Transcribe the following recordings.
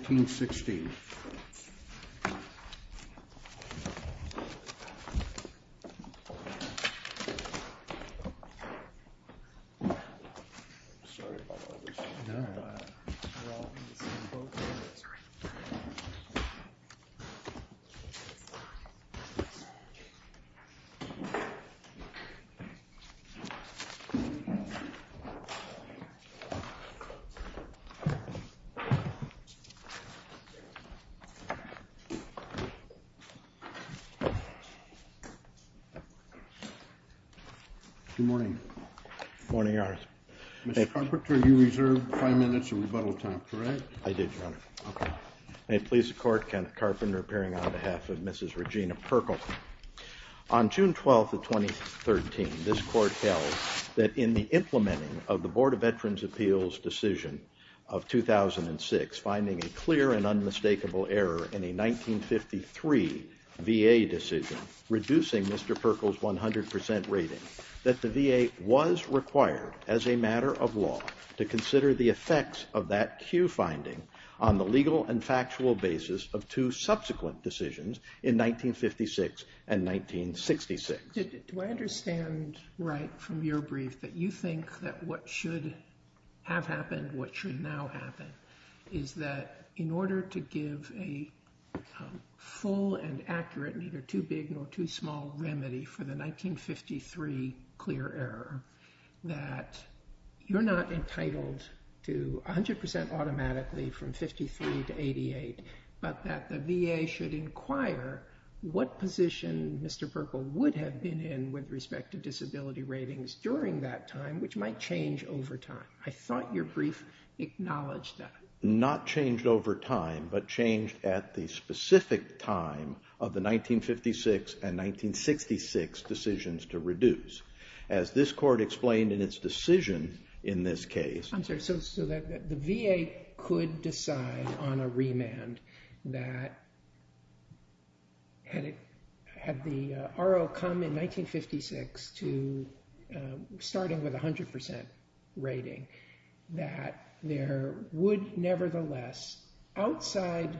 1516. Sorry about all the noise. Good morning, Mr. Carpenter. You reserved five minutes of rebuttal time, correct? I did, Your Honor. May it please the Court, Kenneth Carpenter appearing on behalf of Mrs. Regina Perkle. On June 12th of 2013, this Court held that in the implementing of the clear and unmistakable error in a 1953 VA decision, reducing Mr. Perkle's 100% rating, that the VA was required, as a matter of law, to consider the effects of that Q finding on the legal and factual basis of two subsequent decisions in 1956 and 1966. Do I understand right from your brief that you think that what should have happened, and what should now happen, is that in order to give a full and accurate, neither too big nor too small, remedy for the 1953 clear error, that you're not entitled to 100% automatically from 53 to 88, but that the VA should inquire what position Mr. Perkle would have been in with respect to disability ratings during that time, which might change over time? I thought your brief acknowledged that. Not changed over time, but changed at the specific time of the 1956 and 1966 decisions to reduce. As this Court explained in its decision in this case... I'm sorry, so the VA could decide on a remand that had the RO come in 1956 to starting with 100% rating, that there would nevertheless, outside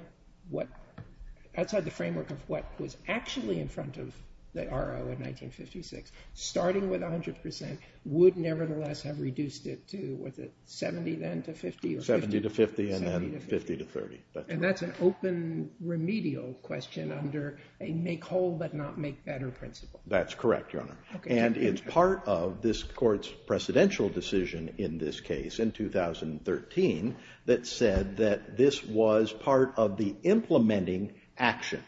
the framework of what was actually in front of the RO in 1956, starting with 100% would nevertheless have reduced it to, was it 70 then to 50? 70 to 50 and then 50 to 30. And that's an open remedial question under a make whole but not make better principle. That's correct, Your Honor. And it's part of this Court's precedential decision in this case in 2013 that said that this was part of the implementing action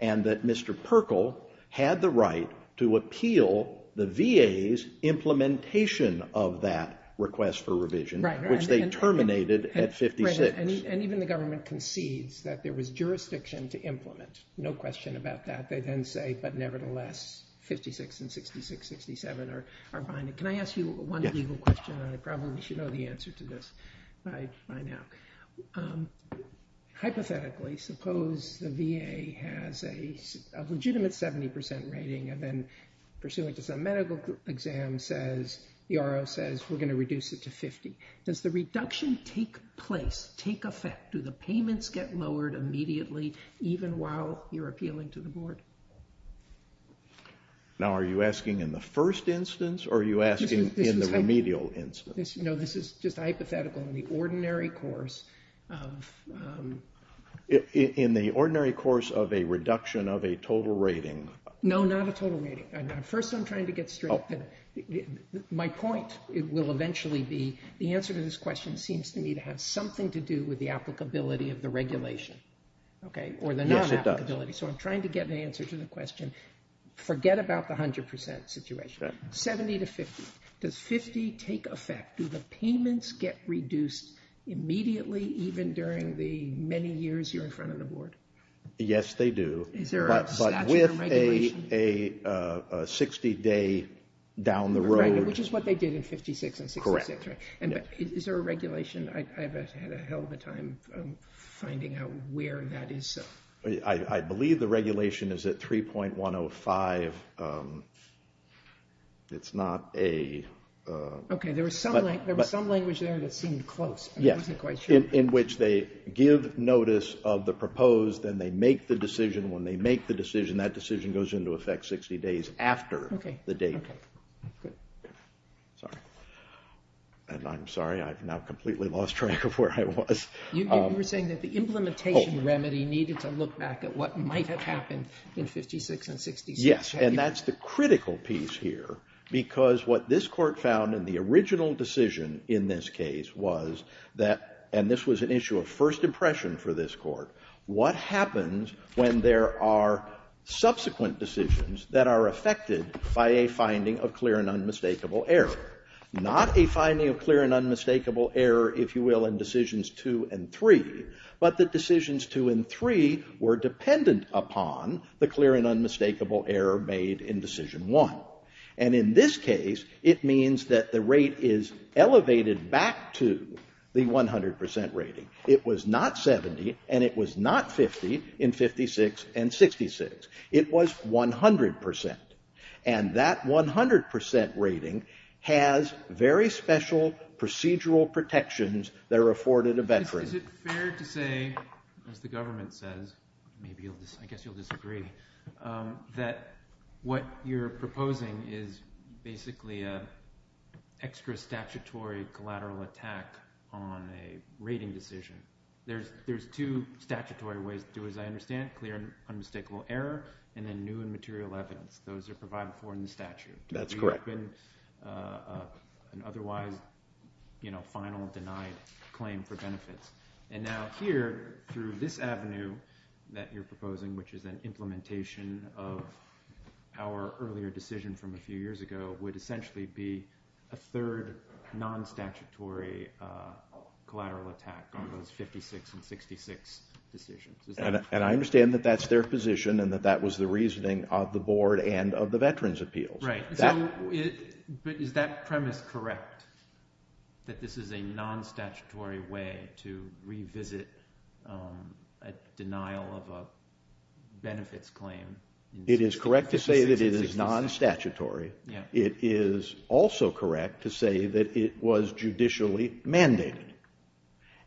and that Mr. Perkle had the right to appeal the VA's implementation of that request for revision, which they terminated at 56. And even the government concedes that there was jurisdiction to implement, no question about that. They then say, but nevertheless, 56 and 66, 67 are behind it. Can I ask you one legal question? I probably should know the answer to this by now. Hypothetically, suppose the VA has a legitimate 70% rating and then pursuant to some medical exam says, the RO says, we're going to reduce it to 50. Does the reduction take place, take effect? Do the payments get lowered immediately, even while you're appealing to the board? Now, are you asking in the first instance or are you asking in the remedial instance? No, this is just hypothetical. In the ordinary course of a reduction of a total rating. No, not a total rating. First, I'm trying to get straight. My point will eventually be, the answer to this question seems to me to have something to do with the applicability of the regulation or the non-applicability. So I'm trying to get an answer to the question. Forget about the 100% situation, 70 to 50. Does 50 take effect? Do the payments get reduced immediately, even during the many years you're in front of the board? Yes, they do. But with a 60 day down the road. Which is what they did in 56 and 66, right? And is there a regulation? I've had a hell of a time finding out where that is. I believe the regulation is at 3.105. It's not a... Okay, there was some language there that seemed close, but I wasn't quite sure. In which they give notice of the proposed, then they make the decision. When they make the decision, that decision goes into effect 60 days after the date. Sorry. And I'm sorry, I've now completely lost track of where I was. You were saying that the implementation remedy needed to look back at what might have happened in 56 and 66. Yes, and that's the critical piece here. Because what this court found in the original decision in this case was that, and this was an issue of first impression for this court. What happens when there are subsequent decisions that are affected by a finding of clear and unmistakable error? Not a finding of clear and unmistakable error, if you will, in decisions two and three. But the decisions two and three were dependent upon the clear and unmistakable error made in decision one. And in this case, it means that the rate is elevated back to the 100% rating. It was not 70, and it was not 50 in 56 and 66. It was 100%. And that 100% rating has very special procedural protections that are afforded a veteran. Is it fair to say, as the government says, maybe I guess you'll disagree, that what you're proposing is basically an extra statutory collateral attack on a rating decision. There's two statutory ways to do, as I understand, clear and unmistakable error, and then new and material evidence. Those are provided for in the statute. That's correct. To reopen an otherwise final denied claim for benefits. And now here, through this avenue that you're proposing, which is an implementation of our earlier decision from a few years ago, would essentially be a third non-statutory collateral attack on those 56 and 66 decisions. And I understand that that's their position, and that that was the reasoning of the board and of the Veterans' Appeals. Right. But is that premise correct? That this is a non-statutory way to revisit a denial of a benefits claim? It is correct to say that it is non-statutory. It is also correct to say that it was judicially mandated.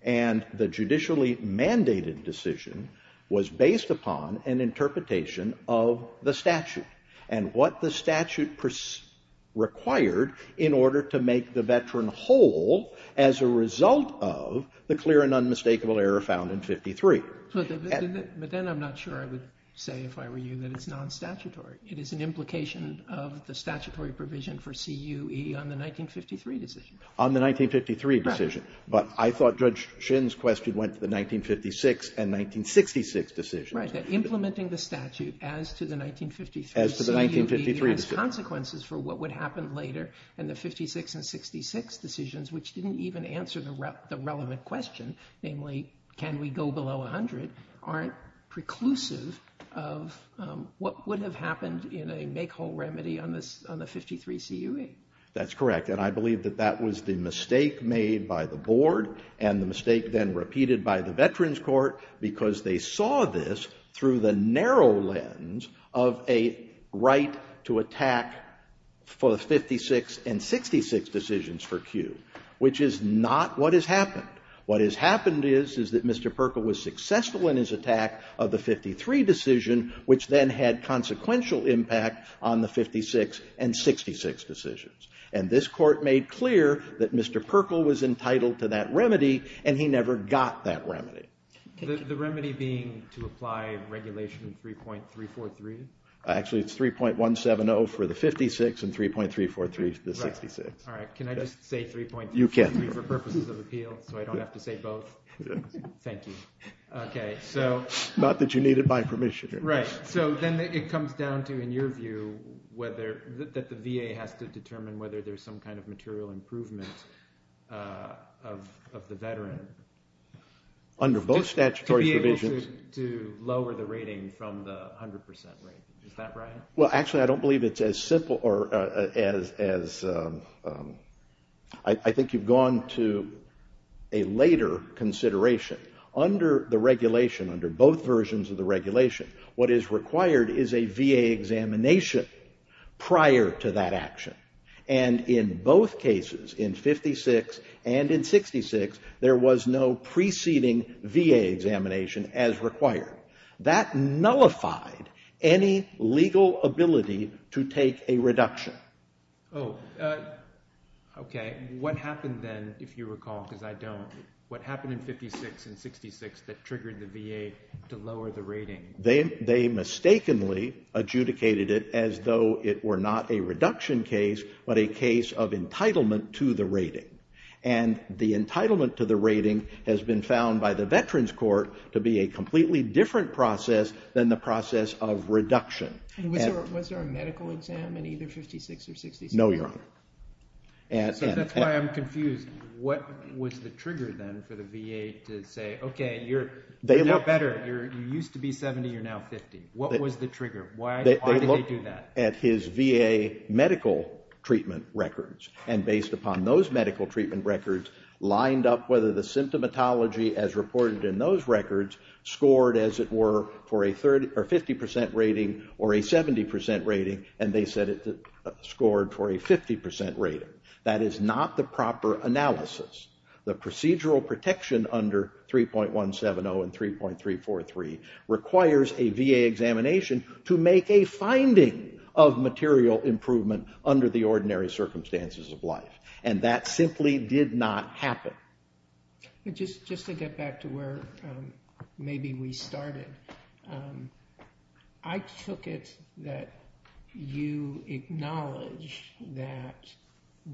And the judicially mandated decision was based upon an interpretation of the statute and what the statute required in order to make the veteran whole as a result of the clear and unmistakable error found in 53. But then I'm not sure I would say, if I were you, that it's non-statutory. It is an implication of the statutory provision for CUE on the 1953 decision. On the 1953 decision. But I thought Judge Shin's question went to the 1956 and 1966 decisions. Right. That implementing the statute as to the 1953 CUE has consequences for what would happen later, and the 56 and 66 decisions, which didn't even answer the relevant question, namely, can we go below 100, aren't preclusive of what would have happened in a make-whole remedy on the 53 CUE. That's correct. And I believe that that was the mistake made by the board, and the mistake then repeated by the Veterans Court, because they saw this through the narrow lens of a right to attack for the 56 and 66 decisions for CUE, which is not what has happened. What has happened is, is that Mr. Perkle was successful in his attack of the 53 decision, which then had consequential impact on the 56 and 66 decisions. And this court made clear that Mr. Perkle was entitled to that remedy, and he never got that remedy. The remedy being to apply regulation 3.343? Actually, it's 3.170 for the 56 and 3.343 for the 66. All right. Can I just say 3.343 for purposes of appeal, so I don't have to say both? Thank you. OK, so. Not that you need it by permission. Right. Then it comes down to, in your view, that the VA has to determine whether there's some kind of material improvement of the veteran. Under both statutory provisions. To be able to lower the rating from the 100% rate. Is that right? Well, actually, I don't believe it's as simple as, I think you've gone to a later consideration. Under the regulation, under both versions of the regulation, what is required is a VA examination prior to that action. And in both cases, in 56 and in 66, there was no preceding VA examination as required. That nullified any legal ability to take a reduction. Oh, OK. What happened then, if you recall, because I don't, what happened in 56 and 66 that triggered the VA to lower the rating? They mistakenly adjudicated it as though it were not a reduction case, but a case of entitlement to the rating. And the entitlement to the rating has been found by the Veterans Court to be a completely different process than the process of reduction. No, Your Honor. So that's why I'm confused. What was the trigger then for the VA to say, OK, you're not better. You used to be 70. You're now 50. What was the trigger? Why did they do that? At his VA medical treatment records. And based upon those medical treatment records, lined up whether the symptomatology, as reported in those records, scored, as it were, for a 50% rating or a 70% rating. And they said it scored for a 50% rating. That is not the proper analysis. The procedural protection under 3.170 and 3.343 requires a VA examination to make a finding of material improvement under the ordinary circumstances of life. And that simply did not happen. Just to get back to where maybe we started, I took it that you acknowledge that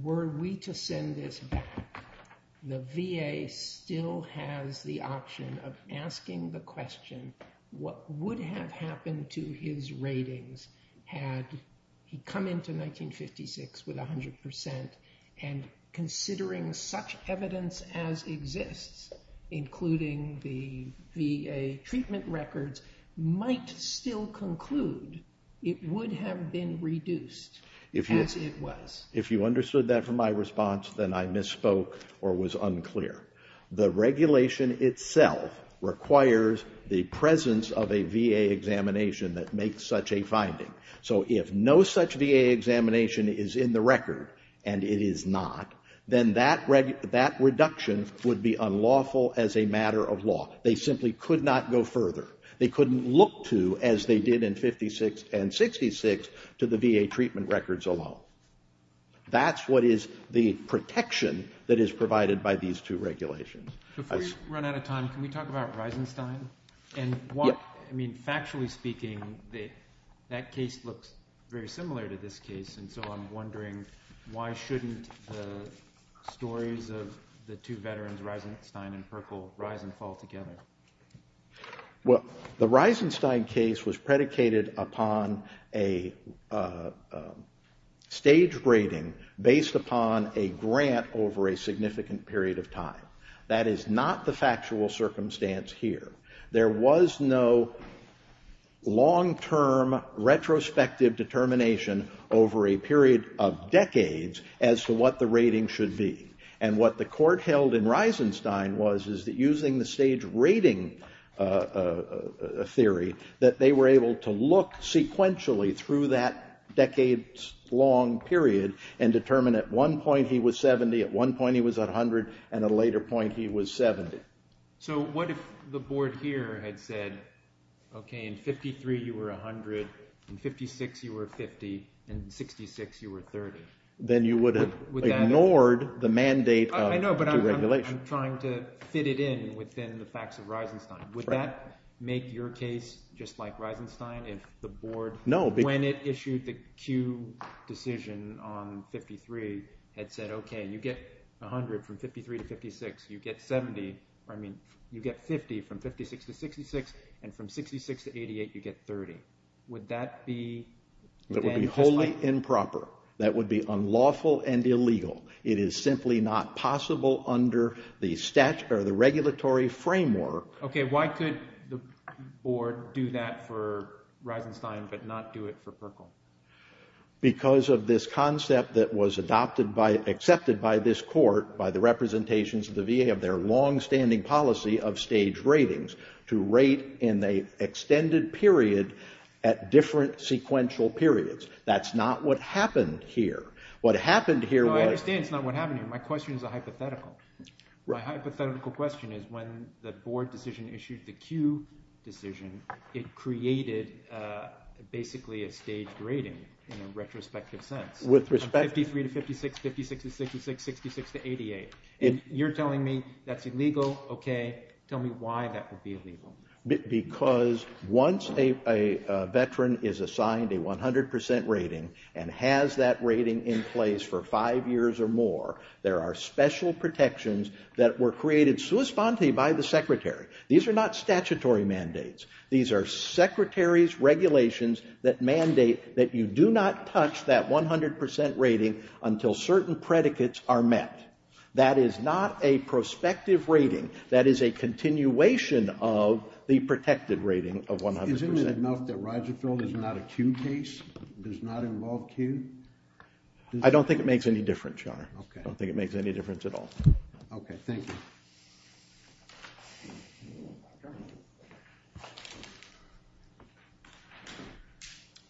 were we to send this back, the VA still has the option of asking the question, what would have happened to his ratings had he come into 1956 with 100% and considering such evidence as exists, including the VA treatment records, might still conclude it would have been reduced as it was? If you understood that from my response, then I misspoke or was unclear. The regulation itself requires the presence of a VA examination that makes such a finding. So if no such VA examination is in the record, and it is not, then that reduction would be unlawful as a matter of law. They simply could not go further. They couldn't look to, as they did in 56 and 66, to the VA treatment records alone. That's what is the protection that is provided by these two regulations. Before we run out of time, can we talk about Reisenstein? Factually speaking, that case looks very similar to this case. And so I'm wondering, why shouldn't the stories of the two veterans, Reisenstein and Purkle, rise and fall together? Well, the Reisenstein case was predicated upon a stage rating based upon a grant over a significant period of time. That is not the factual circumstance here. There was no long-term retrospective determination over a period of decades as to what the rating should be. And what the court held in Reisenstein was, is that using the stage rating theory, that they were able to look sequentially through that decades-long period and determine at one point he was 70, at one point he was 100, and at a later point he was 70. So what if the board here had said, OK, in 53 you were 100, in 56 you were 50, and in 66 you were 30? Then you would have ignored the mandate of deregulation. I know, but I'm trying to fit it in within the facts of Reisenstein. Would that make your case just like Reisenstein if the board, when it issued the Q decision on 53, had said, OK, you get 100 from 53 to 56, you get 70, or I mean, you get 50 from 56 to 66, and from 66 to 88 you get 30. Would that be then just like— That would be wholly improper. That would be unlawful and illegal. It is simply not possible under the regulatory framework— OK, why could the board do that for Reisenstein but not do it for Perkle? Because of this concept that was adopted by, accepted by this court, by the representations of the VA of their longstanding policy of stage ratings, to rate in the extended period at different sequential periods. That's not what happened here. What happened here was— No, I understand it's not what happened here. My question is a hypothetical. My hypothetical question is when the board decision issued the Q decision, it created basically a stage rating in a retrospective sense. With respect— 53 to 56, 56 to 66, 66 to 88. And you're telling me that's illegal, OK. Tell me why that would be illegal. Because once a veteran is assigned a 100% rating and has that rating in place for five years or more, there are special protections that were created sui sponte by the secretary. These are not statutory mandates. These are secretary's regulations that mandate that you do not touch that 100% rating until certain predicates are met. That is not a prospective rating. That is a continuation of the protected rating of 100%. Isn't it enough that Roger Field is not a Q case? Does not involve Q? I don't think it makes any difference, Your Honor. OK. I don't think it makes any difference at all. OK, thank you.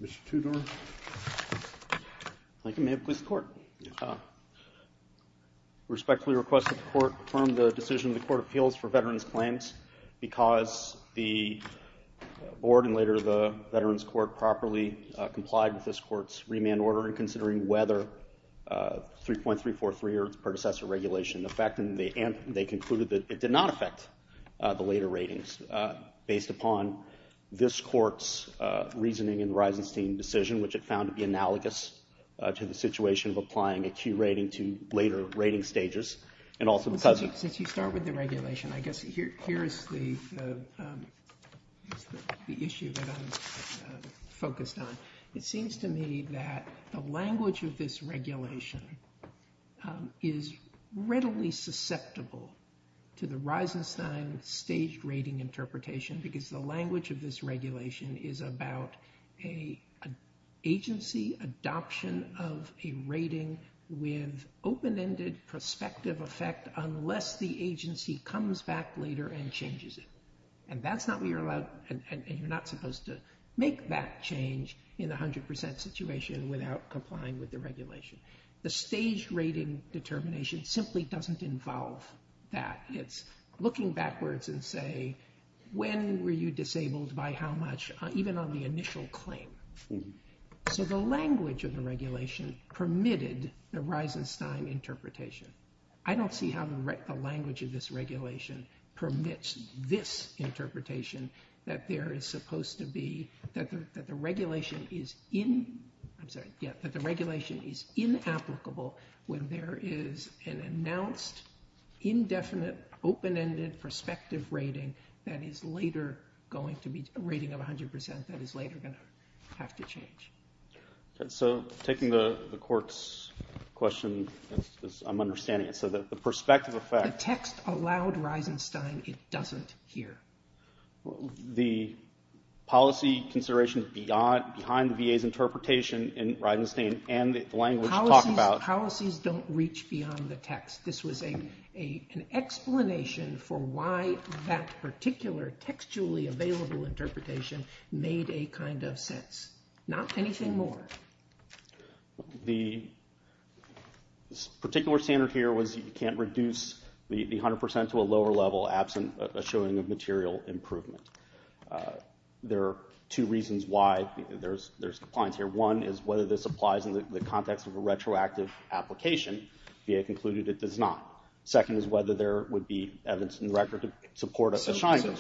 Mr. Tudor. Thank you, ma'am. With court. Respectfully request that the court confirm the decision of the court of appeals for veterans claims because the board, and later the veterans court, properly complied with this court's remand order in considering whether 3.343 or its predecessor regulation affected. They concluded that it did not affect the later ratings based upon this court's reasoning in the Reisenstein decision, which it found to be analogous to the situation of applying a Q rating to later rating stages, and also the cousin. Since you start with the regulation, I guess here is the issue that I'm focused on. It seems to me that the language of this regulation is readily susceptible to the Reisenstein staged rating interpretation because the language of this regulation is about an agency adoption of a rating with open-ended prospective effect unless the agency comes back later and changes it. And that's not what you're allowed, and you're not supposed to make that change in 100% situation without complying with the regulation. The staged rating determination simply doesn't involve that. It's looking backwards and say, when were you disabled by how much, even on the initial claim? So the language of the regulation permitted the Reisenstein interpretation. I don't see how the language of this regulation permits this interpretation that there is supposed to be, that the regulation is in, I'm sorry, yeah, that the regulation is in applicable when there is an announced, indefinite, open-ended prospective rating that is later going to be a rating of 100% that is later going to have to change. Okay. So taking the court's question, I'm understanding it. So the prospective effect... The text allowed Reisenstein. It doesn't here. The policy consideration behind the VA's interpretation in Reisenstein and the language talked about... Policies don't reach beyond the text. This was an explanation for why that particular textually available interpretation made a kind of sense, not anything more. The particular standard here was you can't reduce the 100% to a lower level absent a showing of material improvement. There are two reasons why there's compliance here. One is whether this applies in the context of a retroactive application. VA concluded it does not. Second is whether there would be evidence in the record to support a shining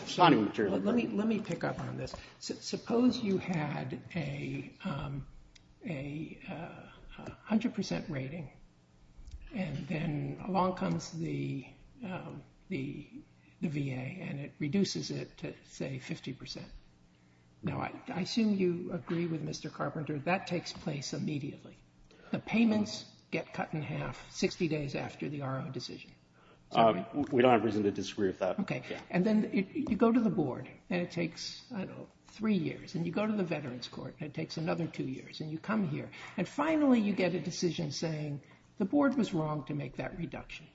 material improvement. Let me pick up on this. Suppose you had a 100% rating and then along comes the VA and it reduces it to, say, 50%. Now, I assume you agree with Mr. Carpenter, that takes place immediately. The payments get cut in half 60 days after the RO decision. We don't have reason to disagree with that. Okay. And then you go to the board and it takes, I don't know, three years and you go to the veterans court and it takes another two years and you come here and finally you get a decision saying the board was wrong to make that reduction.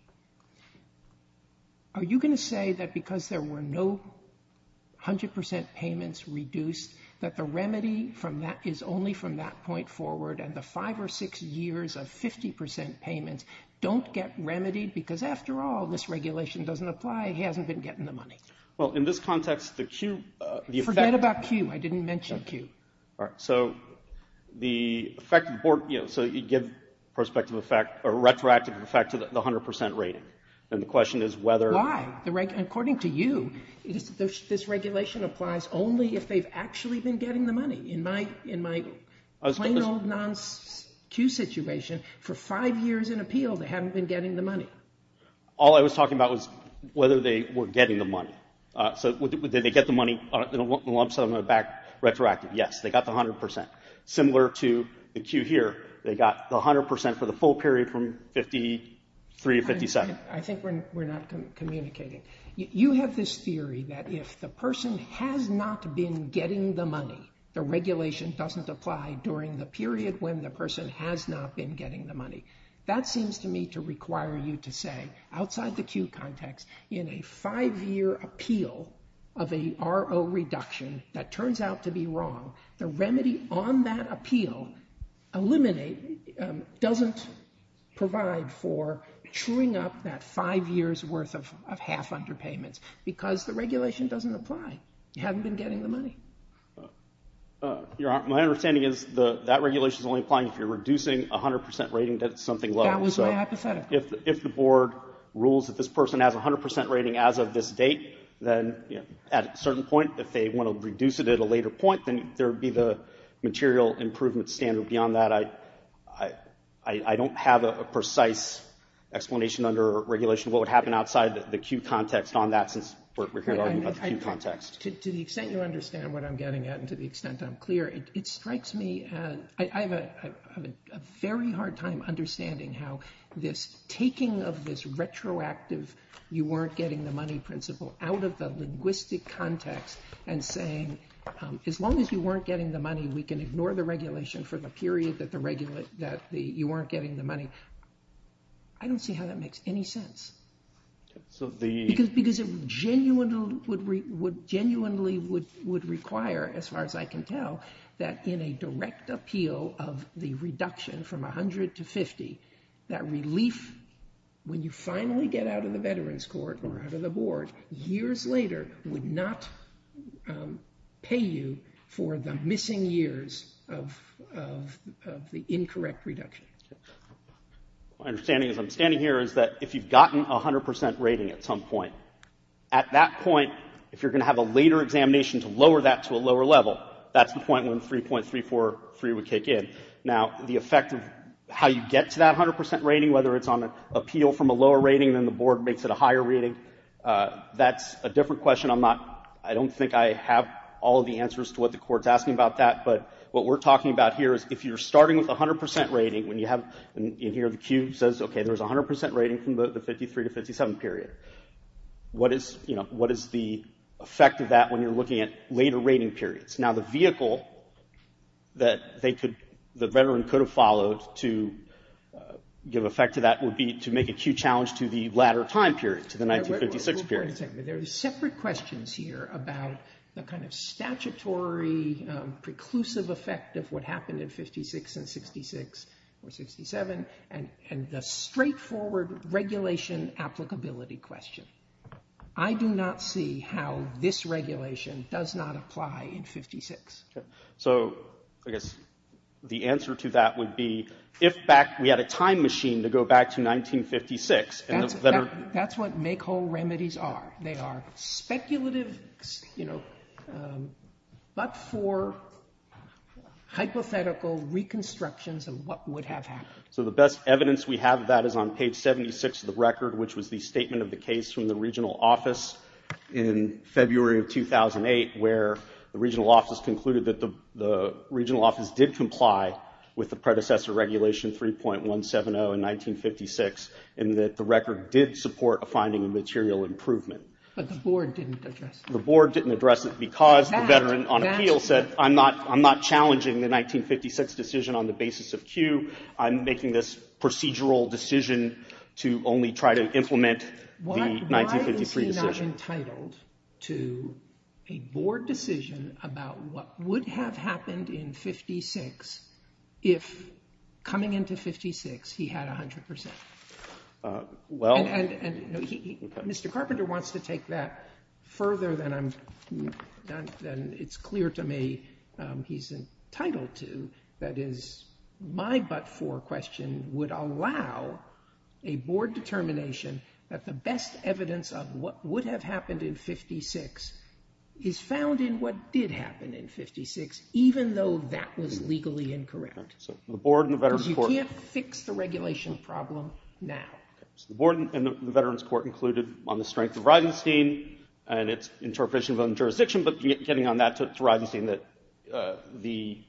Are you going to say that because there were no 100% payments reduced that the remedy is only from that point forward and the five or six years of 50% payments don't get remedied because after all, this regulation doesn't apply. He hasn't been getting the money. Well, in this context, the Q... Forget about Q. I didn't mention Q. All right. So the effective board, you know, so you give prospective effect or retroactive effect to the 100% rating. Then the question is whether... Why? According to you, this regulation applies only if they've actually been getting the plain old non-Q situation for five years in appeal. They haven't been getting the money. All I was talking about was whether they were getting the money. So did they get the money in a lump sum or a back retroactive? Yes, they got the 100%. Similar to the Q here, they got the 100% for the full period from 53 to 57. I think we're not communicating. You have this theory that if the person has not been getting the money, the regulation doesn't apply during the period when the person has not been getting the money. That seems to me to require you to say, outside the Q context, in a five-year appeal of a RO reduction, that turns out to be wrong. The remedy on that appeal doesn't provide for truing up that five years worth of half underpayments because the regulation doesn't apply. You haven't been getting the money. My understanding is that regulation is only applying if you're reducing 100% rating to something low. That was my hypothetical. If the board rules that this person has 100% rating as of this date, then at a certain point, if they want to reduce it at a later point, then there would be the material improvement standard. Beyond that, I don't have a precise explanation under regulation what would happen outside the Q context on that since we're here talking about the Q context. To the extent you understand what I'm getting at and to the extent I'm clear, I have a very hard time understanding how this taking of this retroactive you weren't getting the money principle out of the linguistic context and saying, as long as you weren't getting the money, we can ignore the regulation for the period that you weren't getting the money. I don't see how that makes any sense. Because it genuinely would require, as far as I can tell, that in a direct appeal of the reduction from 100 to 50, that relief when you finally get out of the veterans court or out of the board years later would not pay you for the missing years of the incorrect reduction. My understanding as I'm standing here is that if you've gotten a 100 percent rating at some point, at that point, if you're going to have a later examination to lower that to a lower level, that's the point when 3.343 would kick in. Now, the effect of how you get to that 100 percent rating, whether it's on an appeal from a lower rating and then the board makes it a higher rating, that's a different question. I'm not — I don't think I have all of the answers to what the Court's asking about that. What we're talking about here is if you're starting with a 100 percent rating when you have — and here the queue says, okay, there's a 100 percent rating from the 53 to 57 period. What is the effect of that when you're looking at later rating periods? Now, the vehicle that the veteran could have followed to give effect to that would be to make a queue challenge to the latter time period, to the 1956 period. There are separate questions here about the kind of statutory preclusive effect of what happened in 56 and 66 or 67 and the straightforward regulation applicability question. I do not see how this regulation does not apply in 56. Okay. So, I guess the answer to that would be if back — we had a time machine to go back to 1956 and the veteran — that's what make-whole remedies are. They are speculative, you know, but for hypothetical reconstructions of what would have happened. So, the best evidence we have of that is on page 76 of the record, which was the statement of the case from the regional office in February of 2008, where the regional office concluded that the regional office did comply with the predecessor regulation 3.170 in 1956 and that the record did support a finding of material improvement. But the board didn't address it. The board didn't address it because the veteran on appeal said, I'm not challenging the 1956 decision on the basis of queue. I'm making this procedural decision to only try to implement the 1953 decision. Why is he not entitled to a board decision about what would have happened in 56 if, coming into 56, he had 100%? And Mr. Carpenter wants to take that further than I'm — than it's clear to me he's entitled to. That is, my but-for question would allow a board determination that the best evidence of what would have happened in 56 is found in what did happen in 56, even though that was legally incorrect. Okay. So, the board and the veteran's court — You can't fix the regulation problem now. Okay. So, the board and the veteran's court concluded on the strength of Reisenstein and its interpretation of the jurisdiction, but getting on that to Reisenstein that the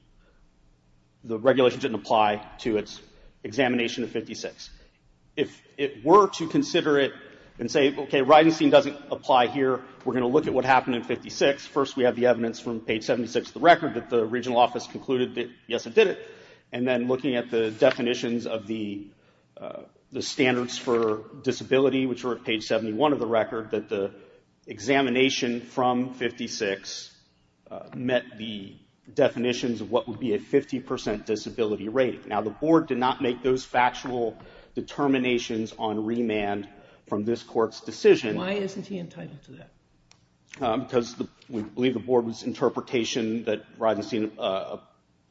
regulation didn't apply to its examination of 56. If it were to consider it and say, okay, Reisenstein doesn't apply here, we're going to look at what happened in 56. First, we have the evidence from page 76 of the record that the regional office concluded yes, it did it. And then looking at the definitions of the standards for disability, which are at page 71 of the record, that the examination from 56 met the definitions of what would be a 50% disability rate. Now, the board did not make those factual determinations on remand from this court's decision. Why isn't he entitled to that? Because we believe the board's interpretation that Reisenstein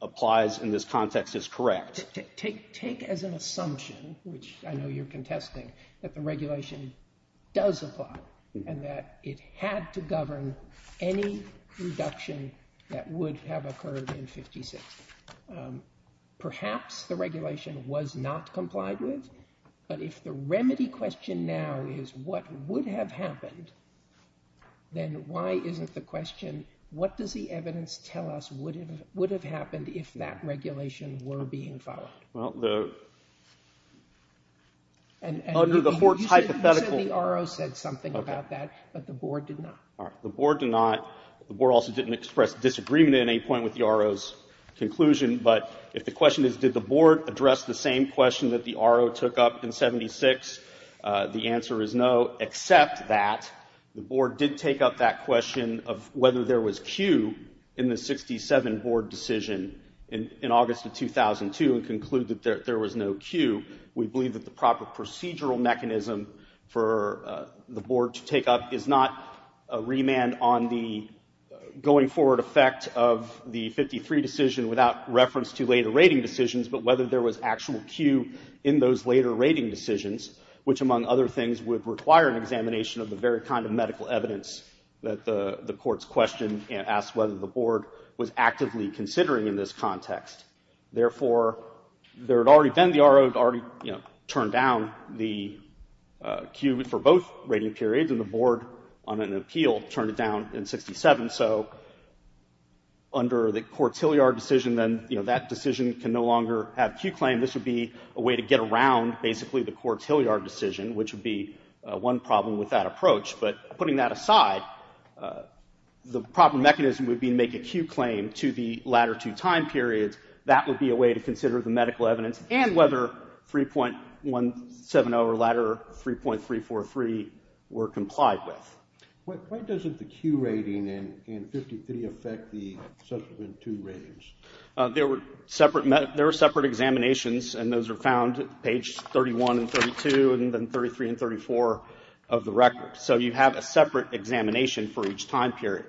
applies in this context is correct. Take as an assumption, which I know you're contesting, that the regulation does apply and that it had to govern any reduction that would have occurred in 56. Perhaps the regulation was not complied with, but if the remedy question now is what would have happened, then why isn't the question, what does the evidence tell us would have happened if that regulation were being followed? Well, under the court's hypothetical... You said the RO said something about that, but the board did not. All right. The board did not. The board also didn't express disagreement at any point with the RO's conclusion. But if the question is, did the board address the same question that the RO took up in 76, the answer is no, except that the board did take up that question of whether there was Q in the 67 board decision in August of 2002 and concluded that there was no Q. We believe that the proper procedural mechanism for the board to take up is not a remand on the going forward effect of the 53 decision without reference to later rating decisions, but whether there was actual Q in those later rating decisions, which, among other things, would require an examination of the very kind of medical evidence that the court's question asked whether the board was actively considering in this context. Therefore, there had already been, the RO had already turned down the Q for both rating periods, and the board, on an appeal, turned it down in 67. So under the court's Hilliard decision, then that decision can no longer have Q claim. This would be a way to get around, basically, the court's Hilliard decision, which would be one problem with that approach. But putting that aside, the proper mechanism would be to make a Q claim to the latter two time periods. That would be a way to consider the medical evidence and whether 3.170 or latter 3.343 were complied with. Why doesn't the Q rating in 53 affect the subsequent two ratings? There were separate examinations, and those are found at page 31 and 32, and then 33 and 34 of the record. So you have a separate examination for each time period.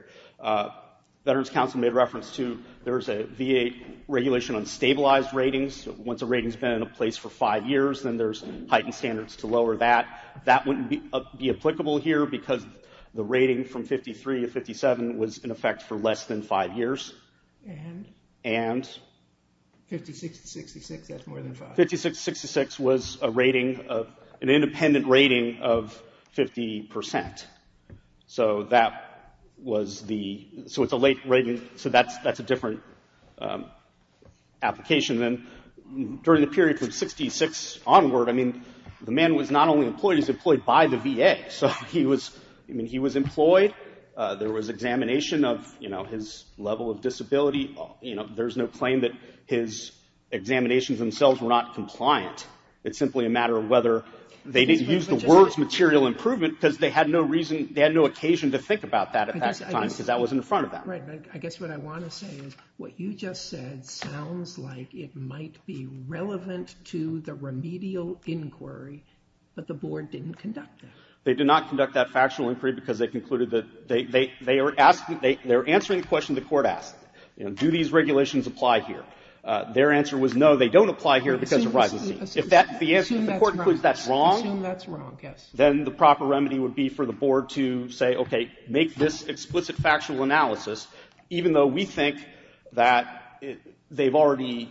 Veterans Council made reference to, there's a VA regulation on stabilized ratings. Once a rating's been in place for five years, then there's heightened standards to lower that. That wouldn't be applicable here because the rating from 53 to 57 was in effect for less than five years. And? And? 56 to 66, that's more than five. 56 to 66 was a rating of, an independent rating of 50 percent. So that was the, so it's a late rating, so that's a different application. And during the period from 66 onward, I mean, the man was not only employed, he was employed by the VA. So he was, I mean, he was employed. There was examination of, you know, his level of disability. You know, there's no claim that his examinations themselves were not compliant. It's simply a matter of whether, they didn't use the words material improvement because they had no reason, they had no occasion to think about that at that time because that was in front of them. I guess what I want to say is, what you just said sounds like it might be relevant to the remedial inquiry, but the board didn't conduct that. They did not conduct that factual inquiry because they concluded that, they are asking, they're answering the question the court asked, you know, do these regulations apply here? Their answer was no, they don't apply here because of rising fees. If that, if the court concludes that's wrong, then the proper remedy would be for the board to say, okay, make this explicit factual analysis, even though we think that they've already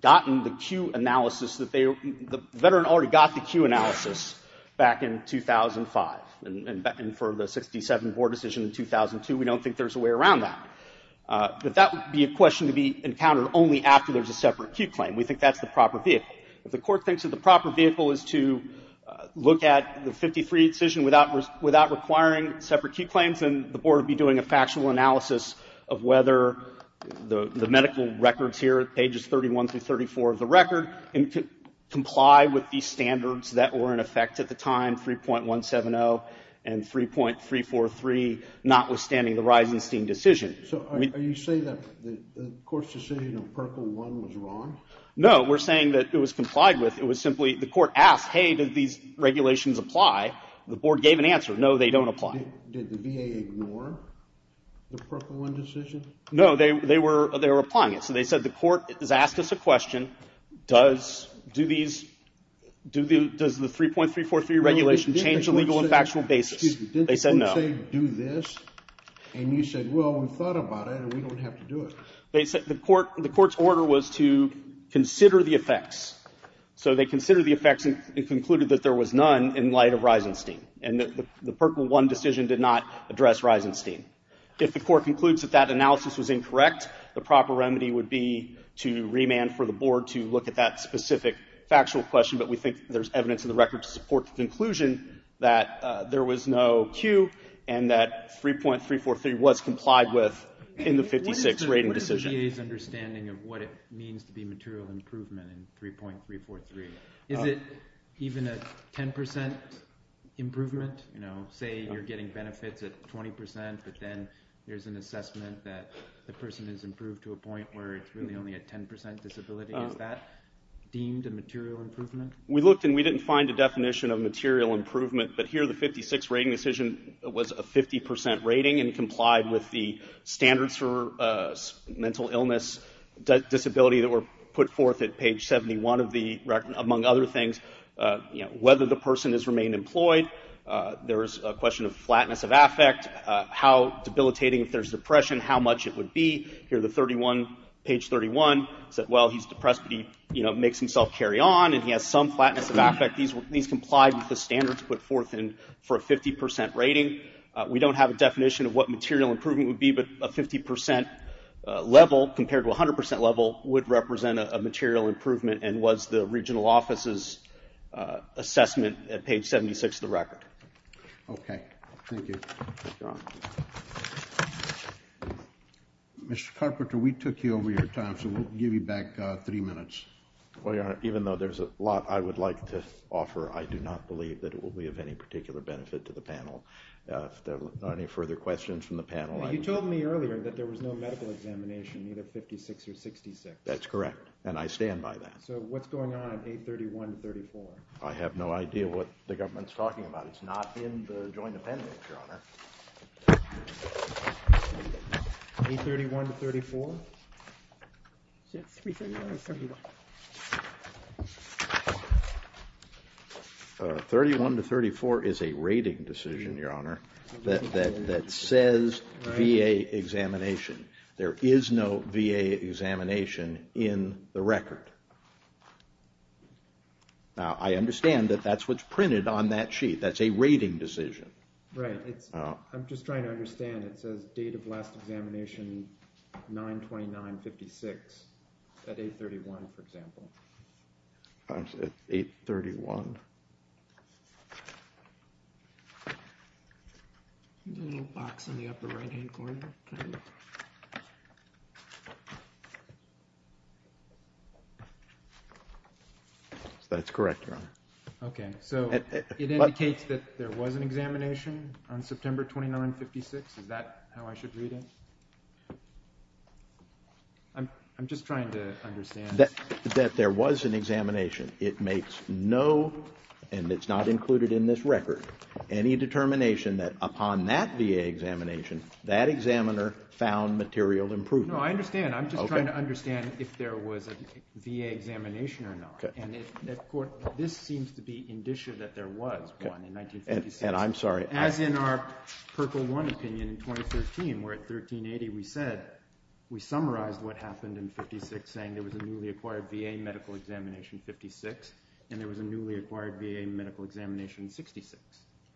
gotten the Q analysis that they, the veteran already got the Q analysis back in 2005 and for the 67 board decision in 2002, we don't think there's a way around that. But that would be a question to be encountered only after there's a separate Q claim. We think that's the proper vehicle. If the court thinks that the proper vehicle is to look at the 53 decision without requiring separate Q claims, then the board would be doing a factual analysis of whether the medical records here, pages 31 through 34 of the record, comply with these standards that were in effect at the time, 3.170 and 3.343, notwithstanding the Reisenstein decision. So are you saying that the court's decision on purple one was wrong? No, we're saying that it was complied with. It was simply, the court asked, hey, did these regulations apply? The board gave an answer. No, they don't apply. Did the VA ignore the purple one decision? No, they were, they were applying it. So they said, the court has asked us a question. Does, do these, do the, does the 3.343 regulation change the legal and factual basis? They said no. Did the court say, do this? And you said, well, we've thought about it and we don't have to do it. They said the court, the court's order was to consider the effects. So they considered the effects and concluded that there was none in light of Reisenstein. And the purple one decision did not address Reisenstein. If the court concludes that that analysis was incorrect, the proper remedy would be to remand for the board to look at that specific factual question. But we think there's evidence in the record to support the conclusion that there was no 3.343 was complied with in the 56 rating decision. What is the VA's understanding of what it means to be material improvement in 3.343? Is it even a 10% improvement? You know, say you're getting benefits at 20%, but then there's an assessment that the person has improved to a point where it's really only a 10% disability. Is that deemed a material improvement? We looked and we didn't find a definition of material improvement, but here the 56 rating decision was a 50% rating and complied with the standards for mental illness disability that were put forth at page 71 of the record, among other things. Whether the person has remained employed, there is a question of flatness of affect, how debilitating if there's depression, how much it would be. Here the 31, page 31 said, well, he's depressed, but he makes himself carry on and he has some flatness of affect. These complied with the standards put forth for a 50% rating. We don't have a definition of what material improvement would be, but a 50% level compared to 100% level would represent a material improvement and was the regional office's assessment at page 76 of the record. Okay, thank you. Mr. Carpenter, we took you over your time, so we'll give you back three minutes. Well, Your Honor, even though there's a lot I would like to offer, I do not believe that it will be of any particular benefit to the panel. If there are any further questions from the panel, I would You told me earlier that there was no medical examination, either 56 or 66. That's correct, and I stand by that. So what's going on at 831 to 34? I have no idea what the government's talking about. It's not in the joint appendix, Your Honor. 831 to 34? Is it 331 or 31? 31 to 34 is a rating decision, Your Honor, that says VA examination. There is no VA examination in the record. Now, I understand that that's what's printed on that sheet. That's a rating decision. Right, I'm just trying to understand. It says, date of last examination, 9-29-56, at 831, for example. I'm sorry, at 831. The little box in the upper right-hand corner. That's correct, Your Honor. Okay, so it indicates that there was an examination on September 29-56. Is that how I should read it? I'm just trying to understand. That there was an examination. It makes no, and it's not included in this record, any determination that upon that VA examination, that examiner found material improvement. No, I understand. I'm just trying to understand if there was a VA examination or not. And this seems to be indicia that there was one in 1956. And I'm sorry. As in our purple one opinion in 2013, where at 1380 we said, we summarized what happened in 56, saying there was a newly acquired VA medical examination 56, and there was a newly acquired VA medical examination 66.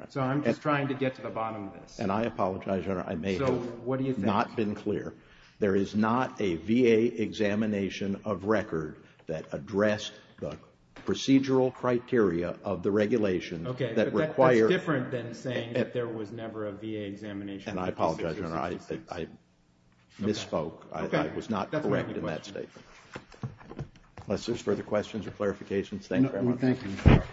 So I'm just trying to get to the bottom of this. And I apologize, Your Honor. I may have not been clear. There is not a VA examination of record that addressed the procedural criteria of the regulations that require. It's different than saying that there was never a VA examination. And I apologize, Your Honor. I misspoke. I was not correct in that statement. Unless there's further questions or clarifications. Thank you very much.